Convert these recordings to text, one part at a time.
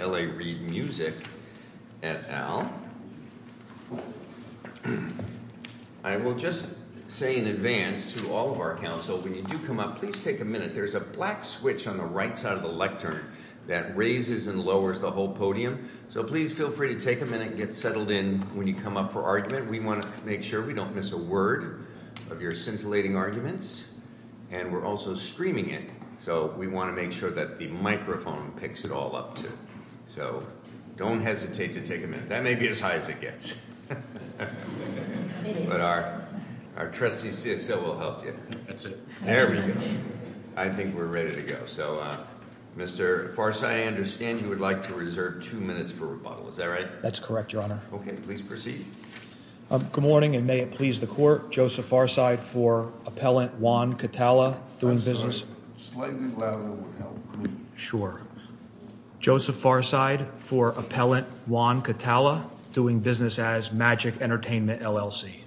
L.A. Reed Music at Al. I will just say in advance to all of our Council, when you do come up, please take a minute. There's a black switch on the right side of the lectern that raises and lowers the whole podium. So please feel free to take a minute and get settled in when you come up for argument. We want to make sure we don't miss a word. And we're also streaming it, so we want to make sure that the microphone picks it all up, too. So don't hesitate to take a minute. That may be as high as it gets. But our trustee CSO will help you. There we go. I think we're ready to go. So, Mr. Farside, I understand you would like to reserve two minutes for rebuttal. Is that right? That's correct, Your Honor. Okay. Please proceed. Good morning, and may it please the Court. Joseph Farside for Appellant Juan Catala doing business. I'm sorry. Slightly louder would help me. Sure. Joseph Farside for Appellant Juan Catala doing business as Magic Entertainment, LLC.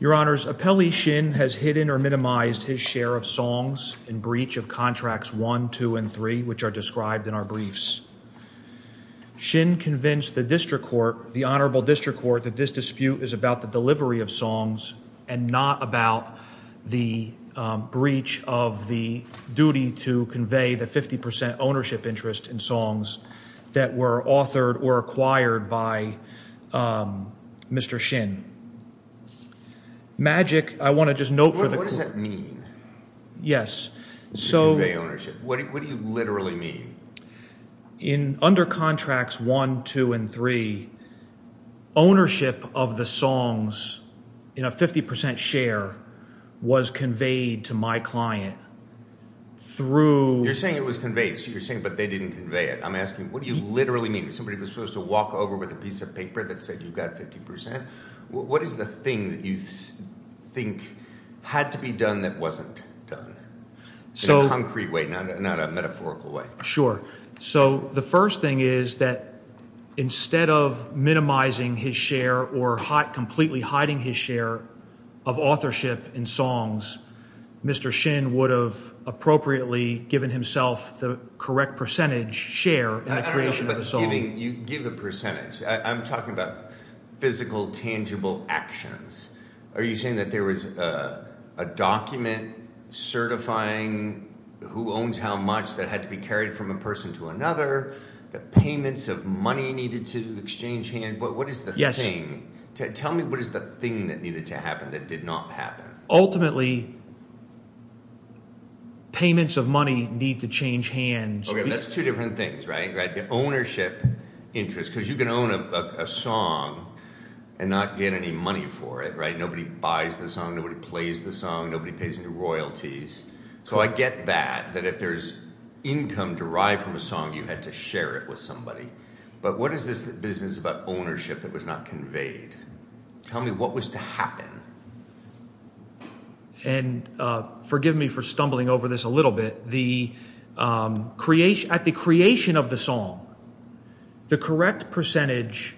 Your Honors, Appellee Shin has hidden or minimized his share of songs in breach of Contracts 1, 2, and 3, which are described in our briefs. Shin convinced the District Court, the Honorable District Court, that this dispute is about the delivery of songs and not about the breach of the duty to convey the 50 percent ownership interest in songs that were authored or acquired by Mr. Shin. Magic, I want to just note for the— What does that mean? Yes, so— To convey ownership. What do you literally mean? Under Contracts 1, 2, and 3, ownership of the songs in a 50 percent share was conveyed to my client through— You're saying it was conveyed, but they didn't convey it. I'm asking, what do you literally mean? Somebody was supposed to walk over with a piece of paper that said you got 50 percent? What is the thing that you think had to be done that wasn't done in a concrete way, not a metaphorical way? Sure. So the first thing is that instead of minimizing his share or completely hiding his share of authorship in songs, Mr. Shin would have appropriately given himself the correct percentage share in the creation of a song. You give a percentage. I'm talking about physical, tangible actions. Are you saying that there was a document certifying who owns how much that had to be carried from a person to another, that payments of money needed to exchange hands? What is the thing? Tell me what is the thing that needed to happen that did not happen? Ultimately, payments of money need to change hands. That's two different things, right? The ownership interest, because you can own a song and not get any money for it. Nobody buys the song. Nobody plays the song. Nobody pays any royalties. So I get that, that if there's income derived from a song, you had to share it with somebody. But what is this business about ownership that was not conveyed? Tell me what was to happen? And forgive me for stumbling over this a little bit. At the creation of the song, the correct percentage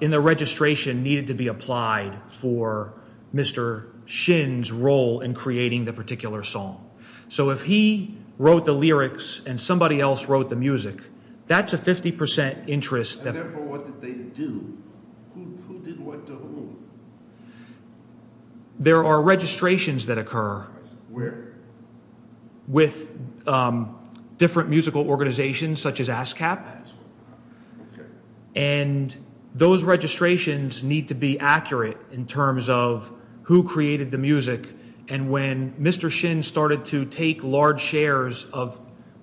in the registration needed to be applied for Mr. Shin's role in creating the particular song. So if he wrote the lyrics and somebody else wrote the music, that's a 50% interest. And therefore, what did they do? Who did what to whom? There are registrations that occur. Where? With different musical organizations such as ASCAP. ASCAP, okay. Those registrations need to be accurate in terms of who created the music. And when Mr. Shin started to take large shares of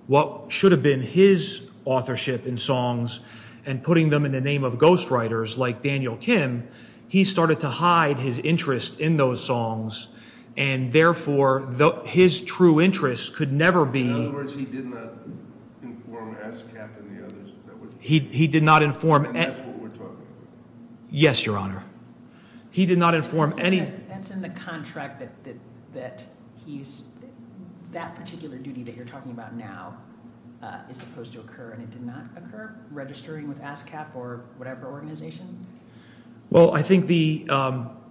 what should have been his authorship in songs and putting them in the name of ghostwriters like Daniel Kim, he started to hide his interest in those songs. And therefore, his true interest could never be… In other words, he did not inform ASCAP and the others. He did not inform… That's what we're talking about. Yes, Your Honor. He did not inform any… That's in the contract that that particular duty that you're talking about now is supposed to occur and it did not occur, registering with ASCAP or whatever organization? Well, I think the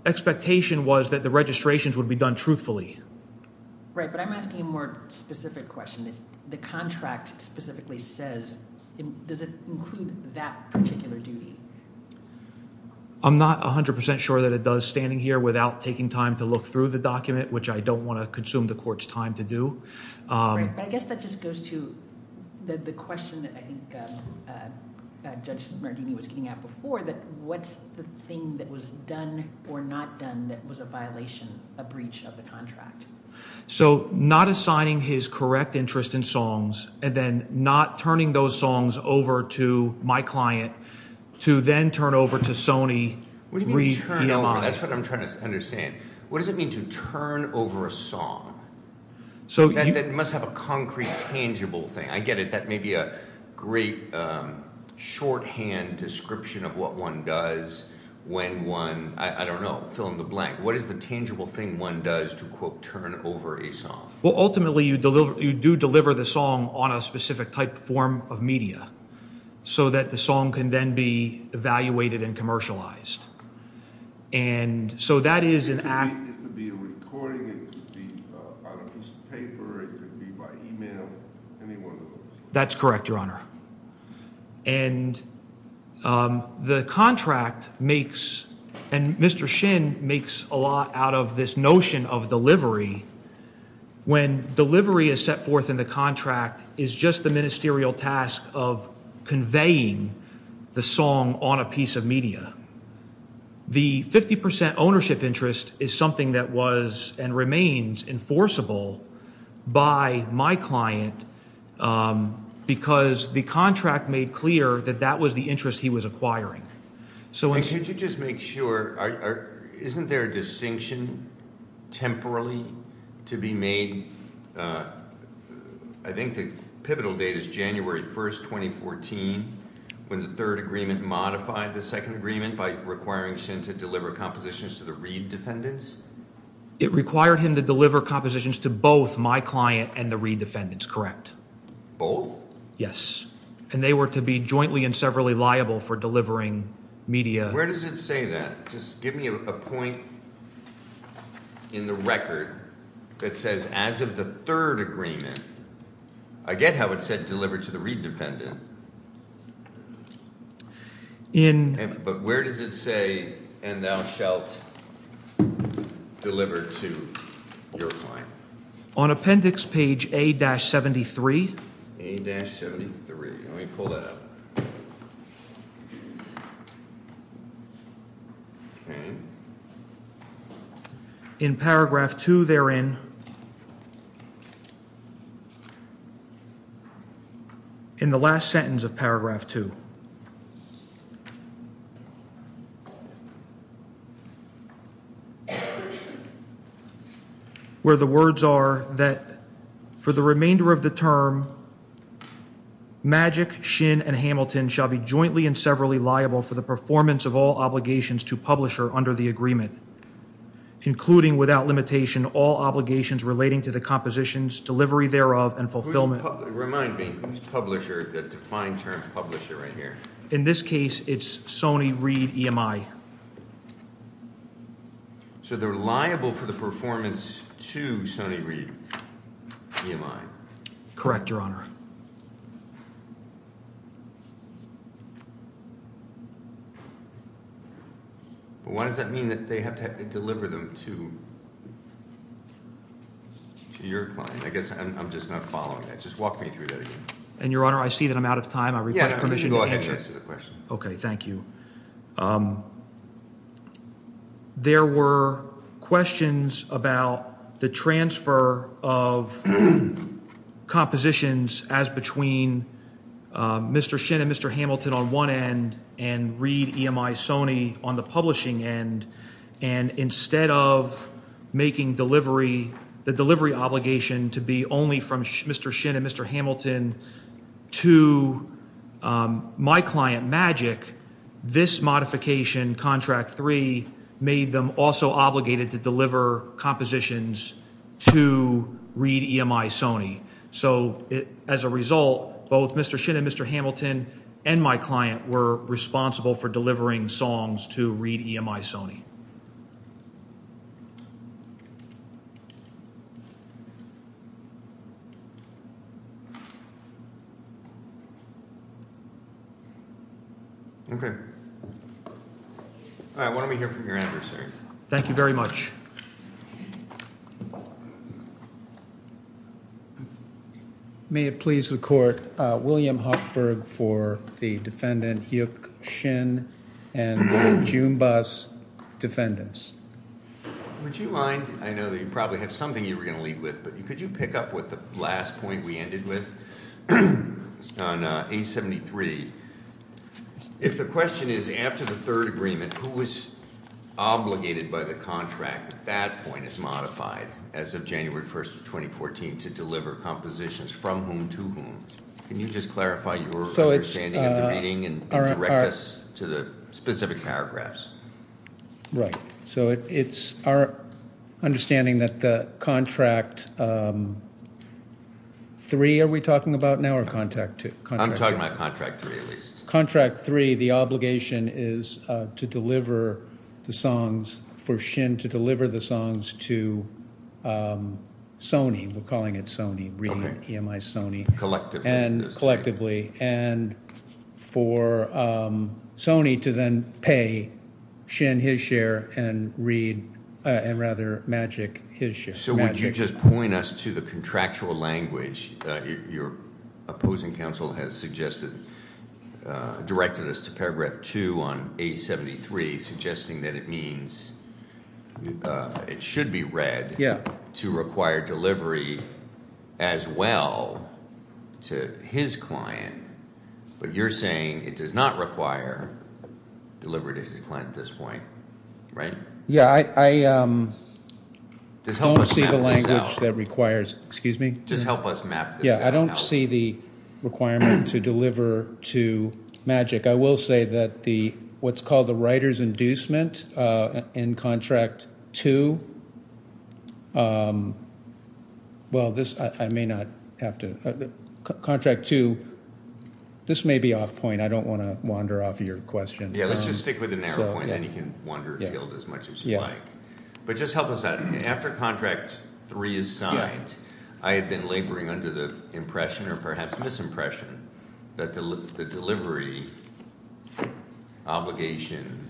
expectation was that the registrations would be done truthfully. Right, but I'm asking a more specific question. The contract specifically says – does it include that particular duty? I'm not 100 percent sure that it does standing here without taking time to look through the document, which I don't want to consume the court's time to do. Right, but I guess that just goes to the question that I think Judge Mardini was getting at before, that what's the thing that was done or not done that was a violation, a breach of the contract? So not assigning his correct interest in songs and then not turning those songs over to my client to then turn over to Sony. What do you mean turn over? That's what I'm trying to understand. What does it mean to turn over a song? That must have a concrete, tangible thing. I get it. That may be a great shorthand description of what one does when one – I don't know, fill in the blank. What is the tangible thing one does to, quote, turn over a song? Well, ultimately you do deliver the song on a specific type form of media so that the song can then be evaluated and commercialized. It could be a recording. It could be on a piece of paper. It could be by email, any one of those. That's correct, Your Honor. The contract makes – and Mr. Shin makes a lot out of this notion of delivery. When delivery is set forth in the contract, it's just the ministerial task of conveying the song on a piece of media. The 50 percent ownership interest is something that was and remains enforceable by my client because the contract made clear that that was the interest he was acquiring. Could you just make sure – isn't there a distinction temporarily to be made – I think the pivotal date is January 1, 2014, when the third agreement modified the second agreement by requiring Shin to deliver compositions to the Reid defendants? It required him to deliver compositions to both my client and the Reid defendants, correct. Both? Yes, and they were to be jointly and severally liable for delivering media. Where does it say that? Just give me a point in the record that says as of the third agreement. I get how it said deliver to the Reid defendant. But where does it say and thou shalt deliver to your client? On appendix page A-73. A-73. Let me pull that up. Okay. – shall be jointly and severally liable for the performance of all obligations to publisher under the agreement, including without limitation all obligations relating to the compositions, delivery thereof, and fulfillment – Remind me. Who's publisher? The defined term publisher right here. In this case, it's Sony Reid EMI. So they're liable for the performance to Sony Reid EMI? Correct, Your Honor. Why does that mean that they have to deliver them to your client? I guess I'm just not following that. Just walk me through that again. And, Your Honor, I see that I'm out of time. I request permission to answer. Yeah, go ahead and answer the question. Okay, thank you. There were questions about the transfer of compositions as between Mr. Shin and Mr. Hamilton on one end and Reid EMI Sony on the publishing end. And instead of making the delivery obligation to be only from Mr. Shin and Mr. Hamilton to my client, Magic, this modification, Contract 3, made them also obligated to deliver compositions to Reid EMI Sony. So as a result, both Mr. Shin and Mr. Hamilton and my client were responsible for delivering songs to Reid EMI Sony. Okay. All right, why don't we hear from your adversary? Thank you very much. May it please the Court, William Hochberg for the defendant, Hyuk Shin, and William Jumbas, defendants. Would you mind, I know that you probably have something you were going to leave with, but could you pick up with the last point we ended with on A73? If the question is, after the third agreement, who was obligated by the contract at that point as modified as of January 1st of 2014 to deliver compositions, from whom to whom? Can you just clarify your understanding of the meeting and direct us to the specific paragraphs? Right, so it's our understanding that the Contract 3 are we talking about now or Contract 2? I'm talking about Contract 3, at least. Contract 3, the obligation is for Shin to deliver the songs to Sony. We're calling it Sony, Reid EMI Sony. Collectively. Collectively. And for Sony to then pay Shin his share and Reid, and rather Magic, his share. So would you just point us to the contractual language your opposing counsel has suggested, directed us to paragraph 2 on A73, suggesting that it means it should be read to require delivery as well to his client. But you're saying it does not require delivery to his client at this point, right? Yeah, I don't see the language that requires – excuse me? Just help us map this out. Yeah, I don't see the requirement to deliver to Magic. I will say that the – what's called the writer's inducement in Contract 2 – well, this – I may not have to – Contract 2, this may be off point. I don't want to wander off your question. Yeah, let's just stick with the narrow point, and then you can wander afield as much as you like. But just help us out. After Contract 3 is signed, I have been laboring under the impression or perhaps misimpression that the delivery obligation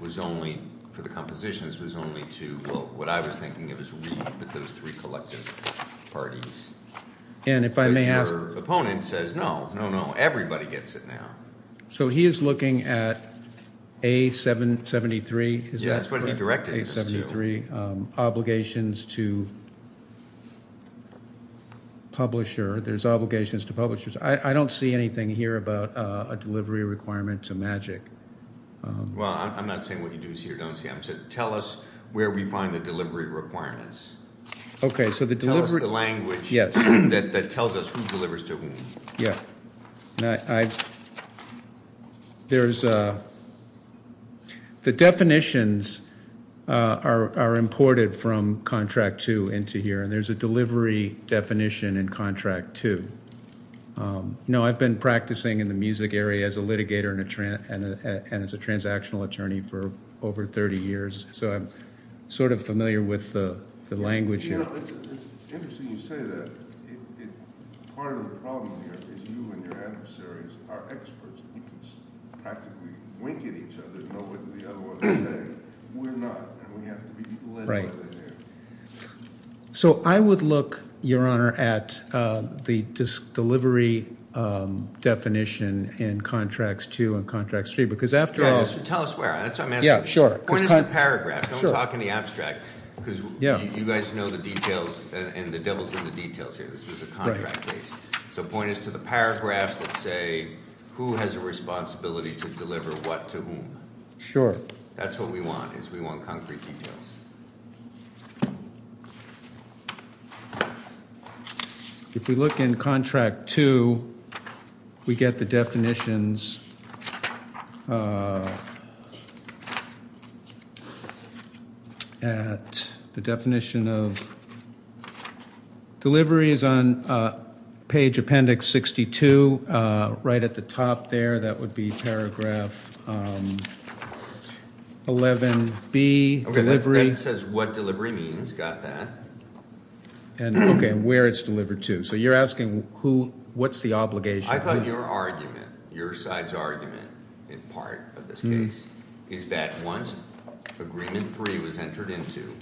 was only – for the compositions was only to – well, what I was thinking it was Reid with those three collective parties. And if I may ask – Your opponent says no, no, no, everybody gets it now. So he is looking at A773. Yeah, that's what he directed us to. Obligations to publisher. There's obligations to publishers. I don't see anything here about a delivery requirement to Magic. Well, I'm not saying what you do see or don't see. I'm saying tell us where we find the delivery requirements. Okay, so the delivery – Tell us the language that tells us who delivers to whom. Yeah, I – there's – the definitions are imported from Contract 2 into here, and there's a delivery definition in Contract 2. No, I've been practicing in the music area as a litigator and as a transactional attorney for over 30 years, so I'm sort of familiar with the language here. You know, it's interesting you say that. Part of the problem here is you and your adversaries are experts. We can practically wink at each other and know what the other one is saying. We're not, and we have to be led by the hand. So I would look, Your Honor, at the delivery definition in Contracts 2 and Contracts 3 because after all – Yeah, just tell us where. That's what I'm asking. Yeah, sure. Point is the paragraph. Don't talk in the abstract. Yeah. Because you guys know the details and the devil's in the details here. This is a contract case. So point is to the paragraphs that say who has a responsibility to deliver what to whom. Sure. That's what we want is we want concrete details. If we look in Contract 2, we get the definitions at the definition of delivery is on page appendix 62 right at the top there. That would be paragraph 11B, delivery. Okay, that says what delivery means. Got that. Okay, and where it's delivered to. So you're asking what's the obligation? I thought your argument, your side's argument in part of this case is that once Agreement 3 was entered into,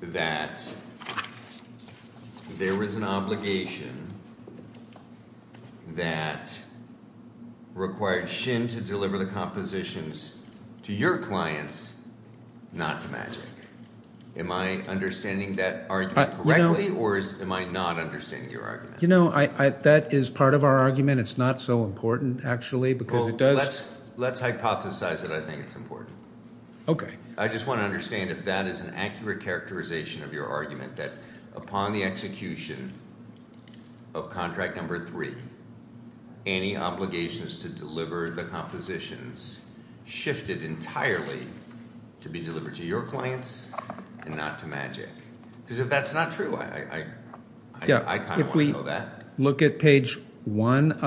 that there was an obligation that required Shin to deliver the compositions to your clients, not to Magic. Am I understanding that argument correctly, or am I not understanding your argument? You know, that is part of our argument. It's not so important, actually, because it does. Let's hypothesize that I think it's important. Okay. I just want to understand if that is an accurate characterization of your argument, that upon the execution of Contract Number 3, any obligations to deliver the compositions shifted entirely to be delivered to your clients and not to Magic. Because if that's not true, I kind of want to know that. Look at page 1,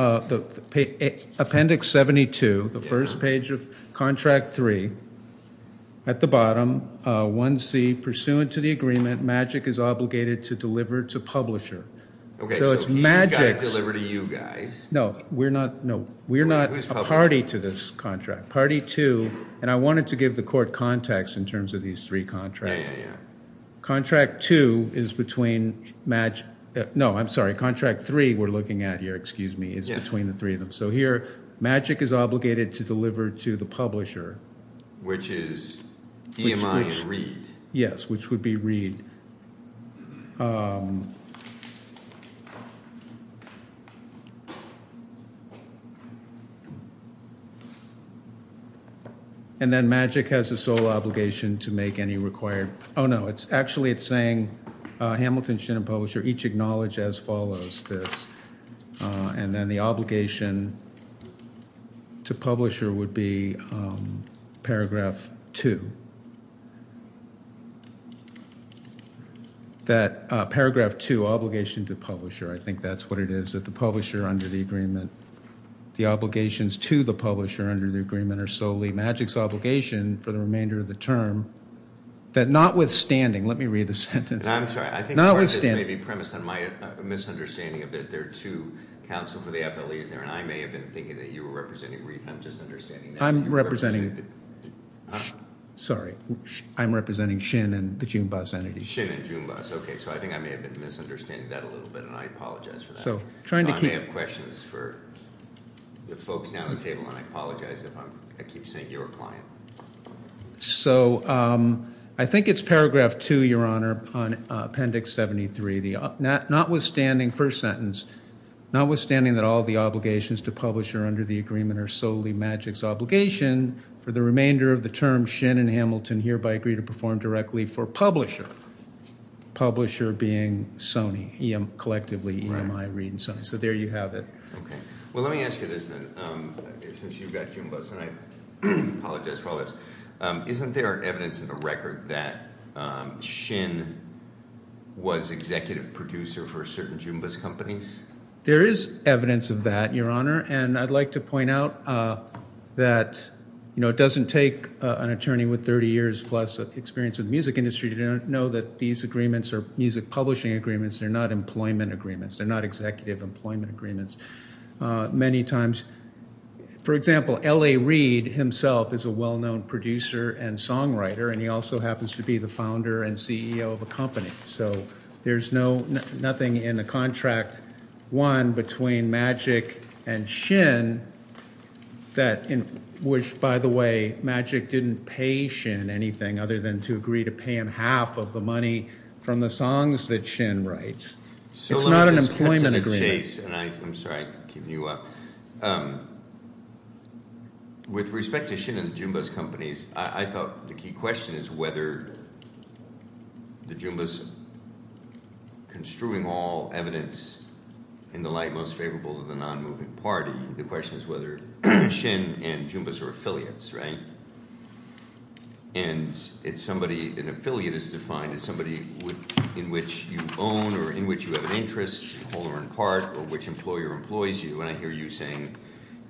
Appendix 72, the first page of Contract 3. At the bottom, 1C, pursuant to the agreement, Magic is obligated to deliver to Publisher. Okay, so he's got to deliver to you guys. No, we're not a party to this contract. Party 2, and I wanted to give the court context in terms of these three contracts. Yeah, yeah, yeah. Contract 2 is between Magic – no, I'm sorry, Contract 3 we're looking at here, excuse me, is between the three of them. So here Magic is obligated to deliver to the Publisher. Which is DMI and Reed. Yes, which would be Reed. Okay. And then Magic has the sole obligation to make any required – oh, no, actually it's saying Hamilton, Shinn, and Publisher each acknowledge as follows this. And then the obligation to Publisher would be Paragraph 2. That Paragraph 2, Obligation to Publisher, I think that's what it is, that the Publisher under the agreement, the obligations to the Publisher under the agreement are solely Magic's obligation for the remainder of the term, that notwithstanding – let me read the sentence. And I'm sorry, I think part of this may be premised on my misunderstanding of that there are two counsel for the FLEs there, and I may have been thinking that you were representing Reed, and I'm just understanding – I'm representing – sorry, I'm representing Shinn and the Junebuss entity. Shinn and Junebuss, okay, so I think I may have been misunderstanding that a little bit, and I apologize for that. So I may have questions for the folks down at the table, and I apologize if I keep saying you're a client. So I think it's Paragraph 2, Your Honor, on Appendix 73, the notwithstanding first sentence, notwithstanding that all of the obligations to Publisher under the agreement are solely Magic's obligation for the remainder of the term, Shinn and Hamilton hereby agree to perform directly for Publisher, Publisher being Sony, collectively EMI, Reed, and Sony. So there you have it. Okay. Well, let me ask you this then, since you've got Junebuss, and I apologize for all this. Isn't there evidence in the record that Shinn was executive producer for certain Junebuss companies? There is evidence of that, Your Honor, and I'd like to point out that it doesn't take an attorney with 30 years plus experience in the music industry to know that these agreements are music publishing agreements. They're not employment agreements. They're not executive employment agreements. Many times, for example, L.A. Reed himself is a well-known producer and songwriter, and he also happens to be the founder and CEO of a company. So there's nothing in the Contract 1 between Magic and Shinn that – which, by the way, Magic didn't pay Shinn anything other than to agree to pay him half of the money from the songs that Shinn writes. It's not an employment agreement. I'm sorry I'm keeping you up. With respect to Shinn and the Junebuss companies, I thought the key question is whether the Junebuss, construing all evidence in the light most favorable to the non-moving party, the question is whether Shinn and Junebuss are affiliates, right? And it's somebody – an affiliate is defined as somebody in which you own or in which you have an interest, hold or impart, or which employer employs you. And I hear you saying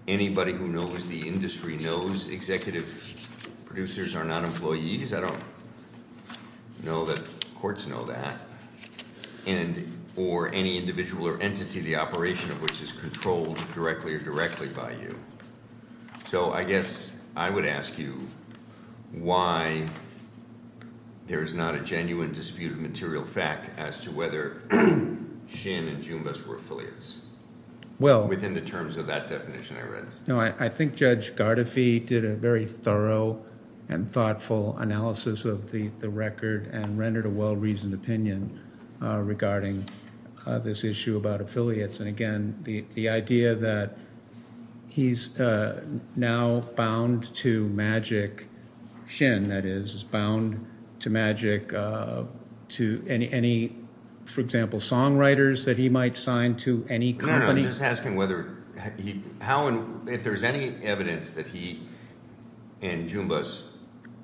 anybody who knows the industry knows executive producers are not employees. I don't know that courts know that. And – or any individual or entity, the operation of which is controlled directly or directly by you. So I guess I would ask you why there is not a genuine dispute of material fact as to whether Shinn and Junebuss were affiliates within the terms of that definition I read. I think Judge Gardefee did a very thorough and thoughtful analysis of the record and rendered a well-reasoned opinion regarding this issue about affiliates. And again, the idea that he's now bound to Magic – Shinn, that is, is bound to Magic to any – for example, songwriters that he might sign to any company. I'm just asking whether he – how and if there's any evidence that he and Junebuss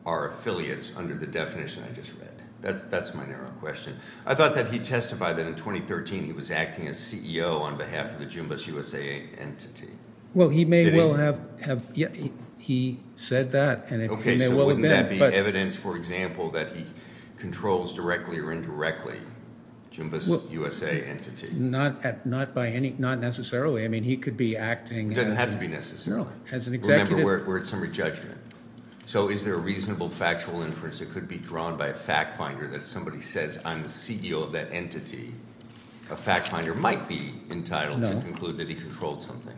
are affiliates under the definition I just read. That's my narrow question. I thought that he testified that in 2013 he was acting as CEO on behalf of the Junebuss USA entity. Well, he may well have – he said that. Okay, so wouldn't that be evidence, for example, that he controls directly or indirectly Junebuss USA entity? Not by any – not necessarily. I mean, he could be acting – It doesn't have to be necessarily. No, as an executive. Remember, we're at summary judgment. So is there a reasonable factual inference that could be drawn by a fact finder that if somebody says, I'm the CEO of that entity, a fact finder might be entitled to conclude that he controlled something?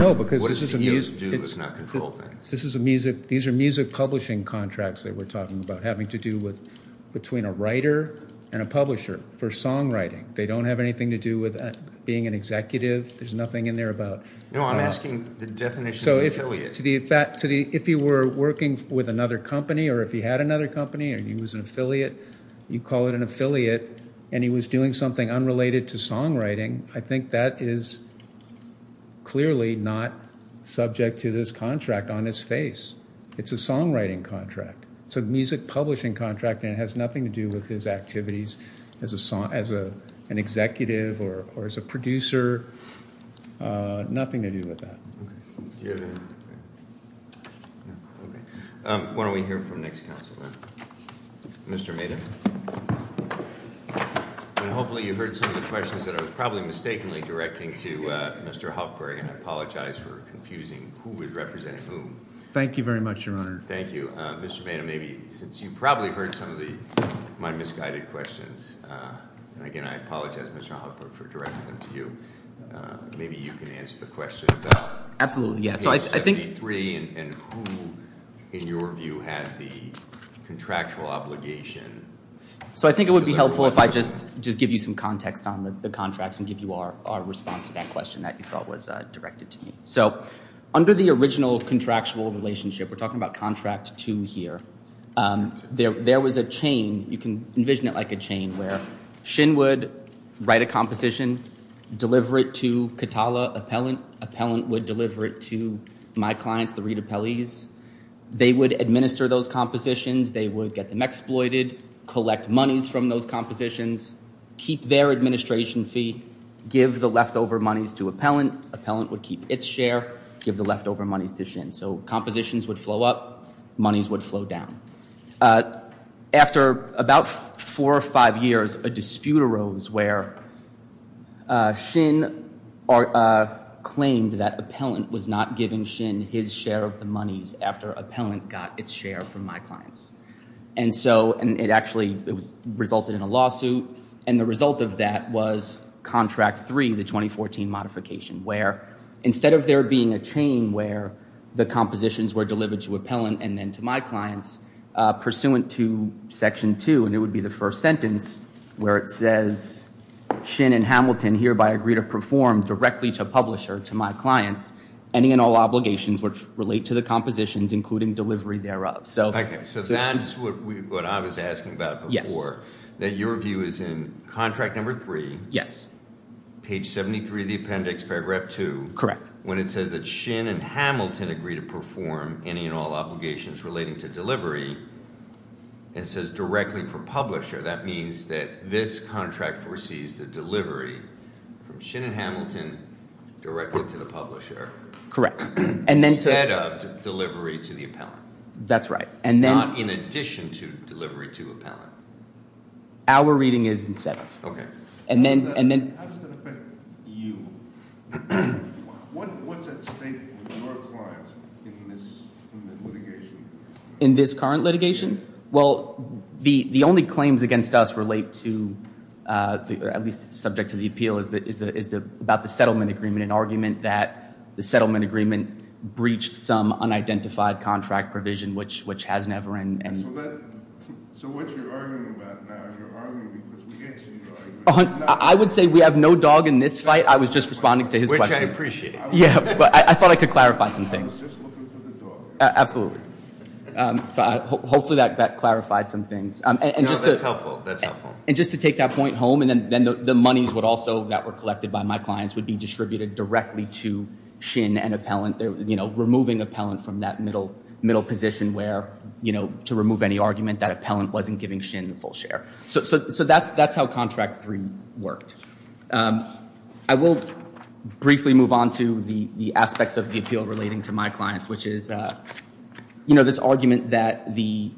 No, because this is a – What do CEOs do if not control things? This is a music – these are music publishing contracts that we're talking about having to do with – between a writer and a publisher for songwriting. They don't have anything to do with being an executive. There's nothing in there about – No, I'm asking the definition of affiliates. If he were working with another company or if he had another company or he was an affiliate, you call it an affiliate, and he was doing something unrelated to songwriting, I think that is clearly not subject to this contract on his face. It's a songwriting contract. It's a music publishing contract, and it has nothing to do with his activities as an executive or as a producer, nothing to do with that. Okay. Why don't we hear from the next counselor, Mr. Maeda? And hopefully you heard some of the questions that I was probably mistakenly directing to Mr. Hoffberg, and I apologize for confusing who was representing whom. Thank you very much, Your Honor. Thank you. Well, Mr. Maeda, maybe since you probably heard some of my misguided questions – and again, I apologize, Mr. Hoffberg, for directing them to you. Maybe you can answer the question about – Absolutely, yes. So I think –– H.L. 73 and who, in your view, has the contractual obligation – So I think it would be helpful if I just give you some context on the contracts and give you our response to that question that you thought was directed to me. So under the original contractual relationship – we're talking about Contract 2 here – there was a chain. You can envision it like a chain where Shin would write a composition, deliver it to Katala Appellant. Appellant would deliver it to my clients, the Reed Appellees. They would administer those compositions. They would get them exploited, collect monies from those compositions, keep their administration fee, give the leftover monies to Appellant. Appellant would keep its share, give the leftover monies to Shin. So compositions would flow up, monies would flow down. After about four or five years, a dispute arose where Shin claimed that Appellant was not giving Shin his share of the monies after Appellant got its share from my clients. And so it actually resulted in a lawsuit. And the result of that was Contract 3, the 2014 modification, where instead of there being a chain where the compositions were delivered to Appellant and then to my clients, pursuant to Section 2 – and it would be the first sentence – where it says, Shin and Hamilton hereby agree to perform directly to Publisher, to my clients, any and all obligations which relate to the compositions, including delivery thereof. Okay, so that's what I was asking about before. That your view is in Contract 3, page 73 of the appendix, paragraph 2. Correct. When it says that Shin and Hamilton agree to perform any and all obligations relating to delivery, and it says directly for Publisher, that means that this contract foresees the delivery from Shin and Hamilton directly to the Publisher. Correct. Instead of delivery to the Appellant. That's right. Not in addition to delivery to Appellant. Our reading is instead of. Okay. How does that affect you? What's at stake for your clients in this current litigation? In this current litigation? Well, the only claims against us relate to, at least subject to the appeal, is about the settlement agreement, an argument that the settlement agreement breached some unidentified contract provision, which has never been. So what you're arguing about now, you're arguing because we can't see your argument. I would say we have no dog in this fight. I was just responding to his questions. Which I appreciate. Yeah, but I thought I could clarify some things. I was just looking for the dog. Absolutely. So hopefully that clarified some things. No, that's helpful. And just to take that point home, and then the monies would also, that were collected by my clients, would be distributed directly to Shin and Appellant, you know, removing Appellant from that middle position where, you know, to remove any argument that Appellant wasn't giving Shin the full share. So that's how Contract 3 worked. I will briefly move on to the aspects of the appeal relating to my clients, which is, you know, this argument that the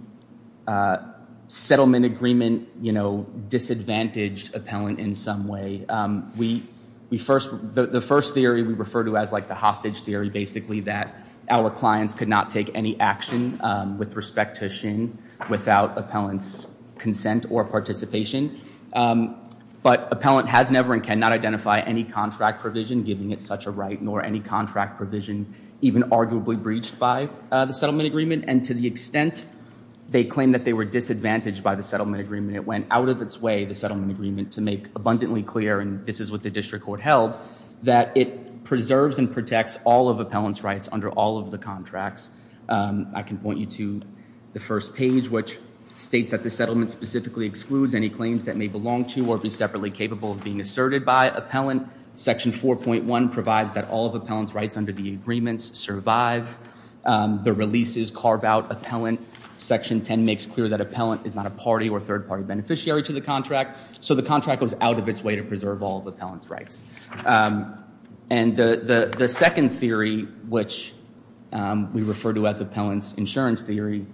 settlement agreement, you know, disadvantaged Appellant in some way. We first, the first theory we refer to as like the hostage theory, basically, that our clients could not take any action with respect to Shin without Appellant's consent or participation. But Appellant has never and cannot identify any contract provision giving it such a right, nor any contract provision even arguably breached by the settlement agreement. And to the extent they claim that they were disadvantaged by the settlement agreement, it went out of its way, the settlement agreement, to make abundantly clear, and this is what the district court held, that it preserves and protects all of Appellant's rights under all of the contracts. I can point you to the first page, which states that the settlement specifically excludes any claims that may belong to or be separately capable of being asserted by Appellant. Section 4.1 provides that all of Appellant's rights under the agreements survive. The releases carve out Appellant. Section 10 makes clear that Appellant is not a party or third-party beneficiary to the contract. So the contract goes out of its way to preserve all of Appellant's rights. And the second theory, which we refer to as Appellant's insurance theory,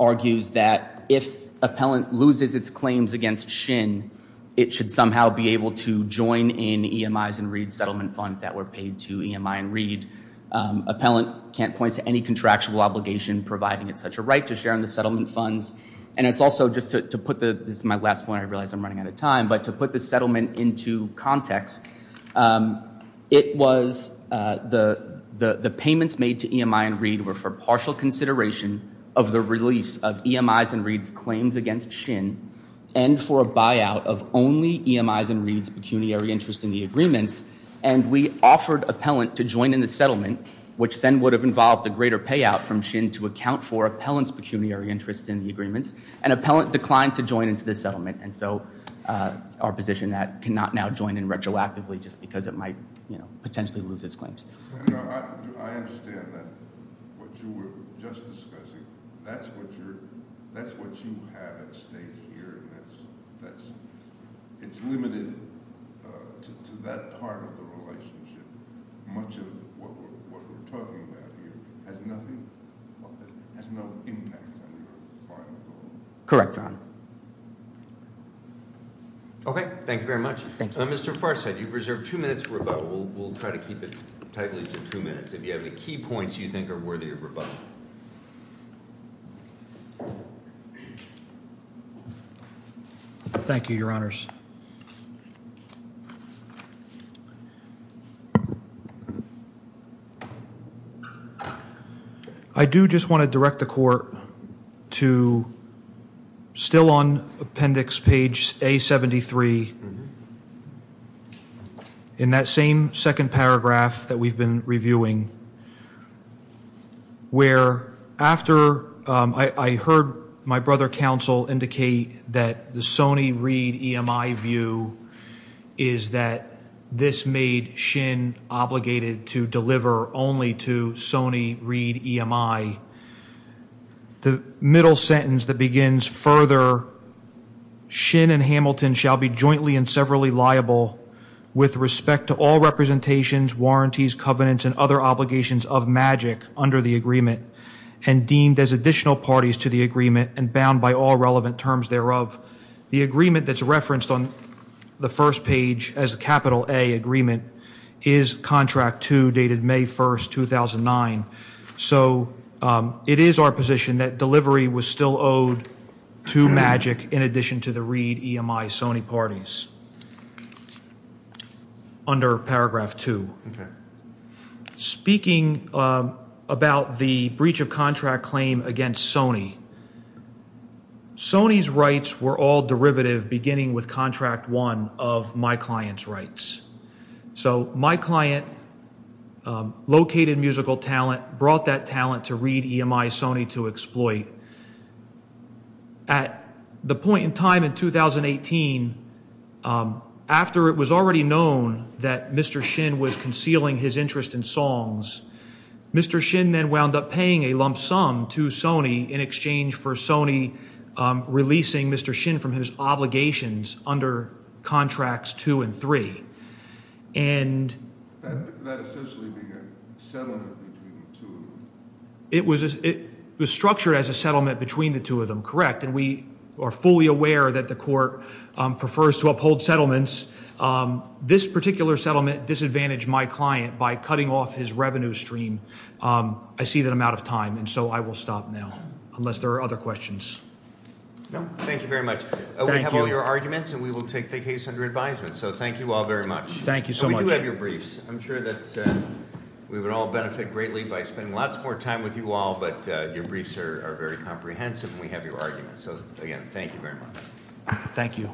argues that if Appellant loses its claims against Shin, it should somehow be able to join in EMI's and Reed's settlement funds that were paid to EMI and Reed. Appellant can't point to any contractual obligation providing it such a right to share in the settlement funds. And it's also just to put the, this is my last point, I realize I'm running out of time, but to put the settlement into context, it was the payments made to EMI and Reed were for partial consideration of the release of EMI's and Reed's claims against Shin and for a buyout of only EMI's and Reed's pecuniary interest in the agreements. And we offered Appellant to join in the settlement, which then would have involved a greater payout from Shin to account for Appellant's pecuniary interest in the agreements. And Appellant declined to join into the settlement. And so it's our position that it cannot now join in retroactively just because it might, you know, potentially lose its claims. I understand that what you were just discussing, that's what you're, that's what you have at stake here. It's limited to that part of the relationship. Much of what we're talking about here has nothing, has no impact on your final goal. Correct, Your Honor. Okay, thank you very much. Thank you. Mr. Farsad, you've reserved two minutes for rebuttal. We'll try to keep it tightly to two minutes. If you have any key points you think are worthy of rebuttal. Thank you, Your Honors. I do just want to direct the Court to still on appendix page A73, in that same second paragraph that we've been reviewing, where after I heard my brother counsel indicate that the Sony, Reed, EMI view is that this made Shin obligated to deliver only to Sony, Reed, EMI. The middle sentence that begins further, Shin and Hamilton shall be jointly and severally liable with respect to all representations, warranties, covenants, and other obligations of MAGIC under the agreement, and deemed as additional parties to the agreement, and bound by all relevant terms thereof. The agreement that's referenced on the first page as a capital A agreement is contract two, dated May 1st, 2009. So it is our position that delivery was still owed to MAGIC in addition to the Reed, EMI, Sony parties under paragraph two. Speaking about the breach of contract claim against Sony, Sony's rights were all derivative beginning with contract one of my client's rights. So my client located musical talent, brought that talent to Reed, EMI, Sony to exploit. At the point in time in 2018, after it was already known that Mr. Shin was concealing his interest in songs, Mr. Shin then wound up paying a lump sum to Sony in exchange for Sony releasing Mr. Shin from his obligations under contracts two and three. And- That essentially being a settlement between the two of them. It was structured as a settlement between the two of them, correct. And we are fully aware that the court prefers to uphold settlements. This particular settlement disadvantaged my client by cutting off his revenue stream. I see that I'm out of time, and so I will stop now, unless there are other questions. No, thank you very much. Thank you. We have all your arguments, and we will take the case under advisement. So thank you all very much. Thank you so much. And we do have your briefs. I'm sure that we would all benefit greatly by spending lots more time with you all, but your briefs are very comprehensive, and we have your arguments. So again, thank you very much. Thank you.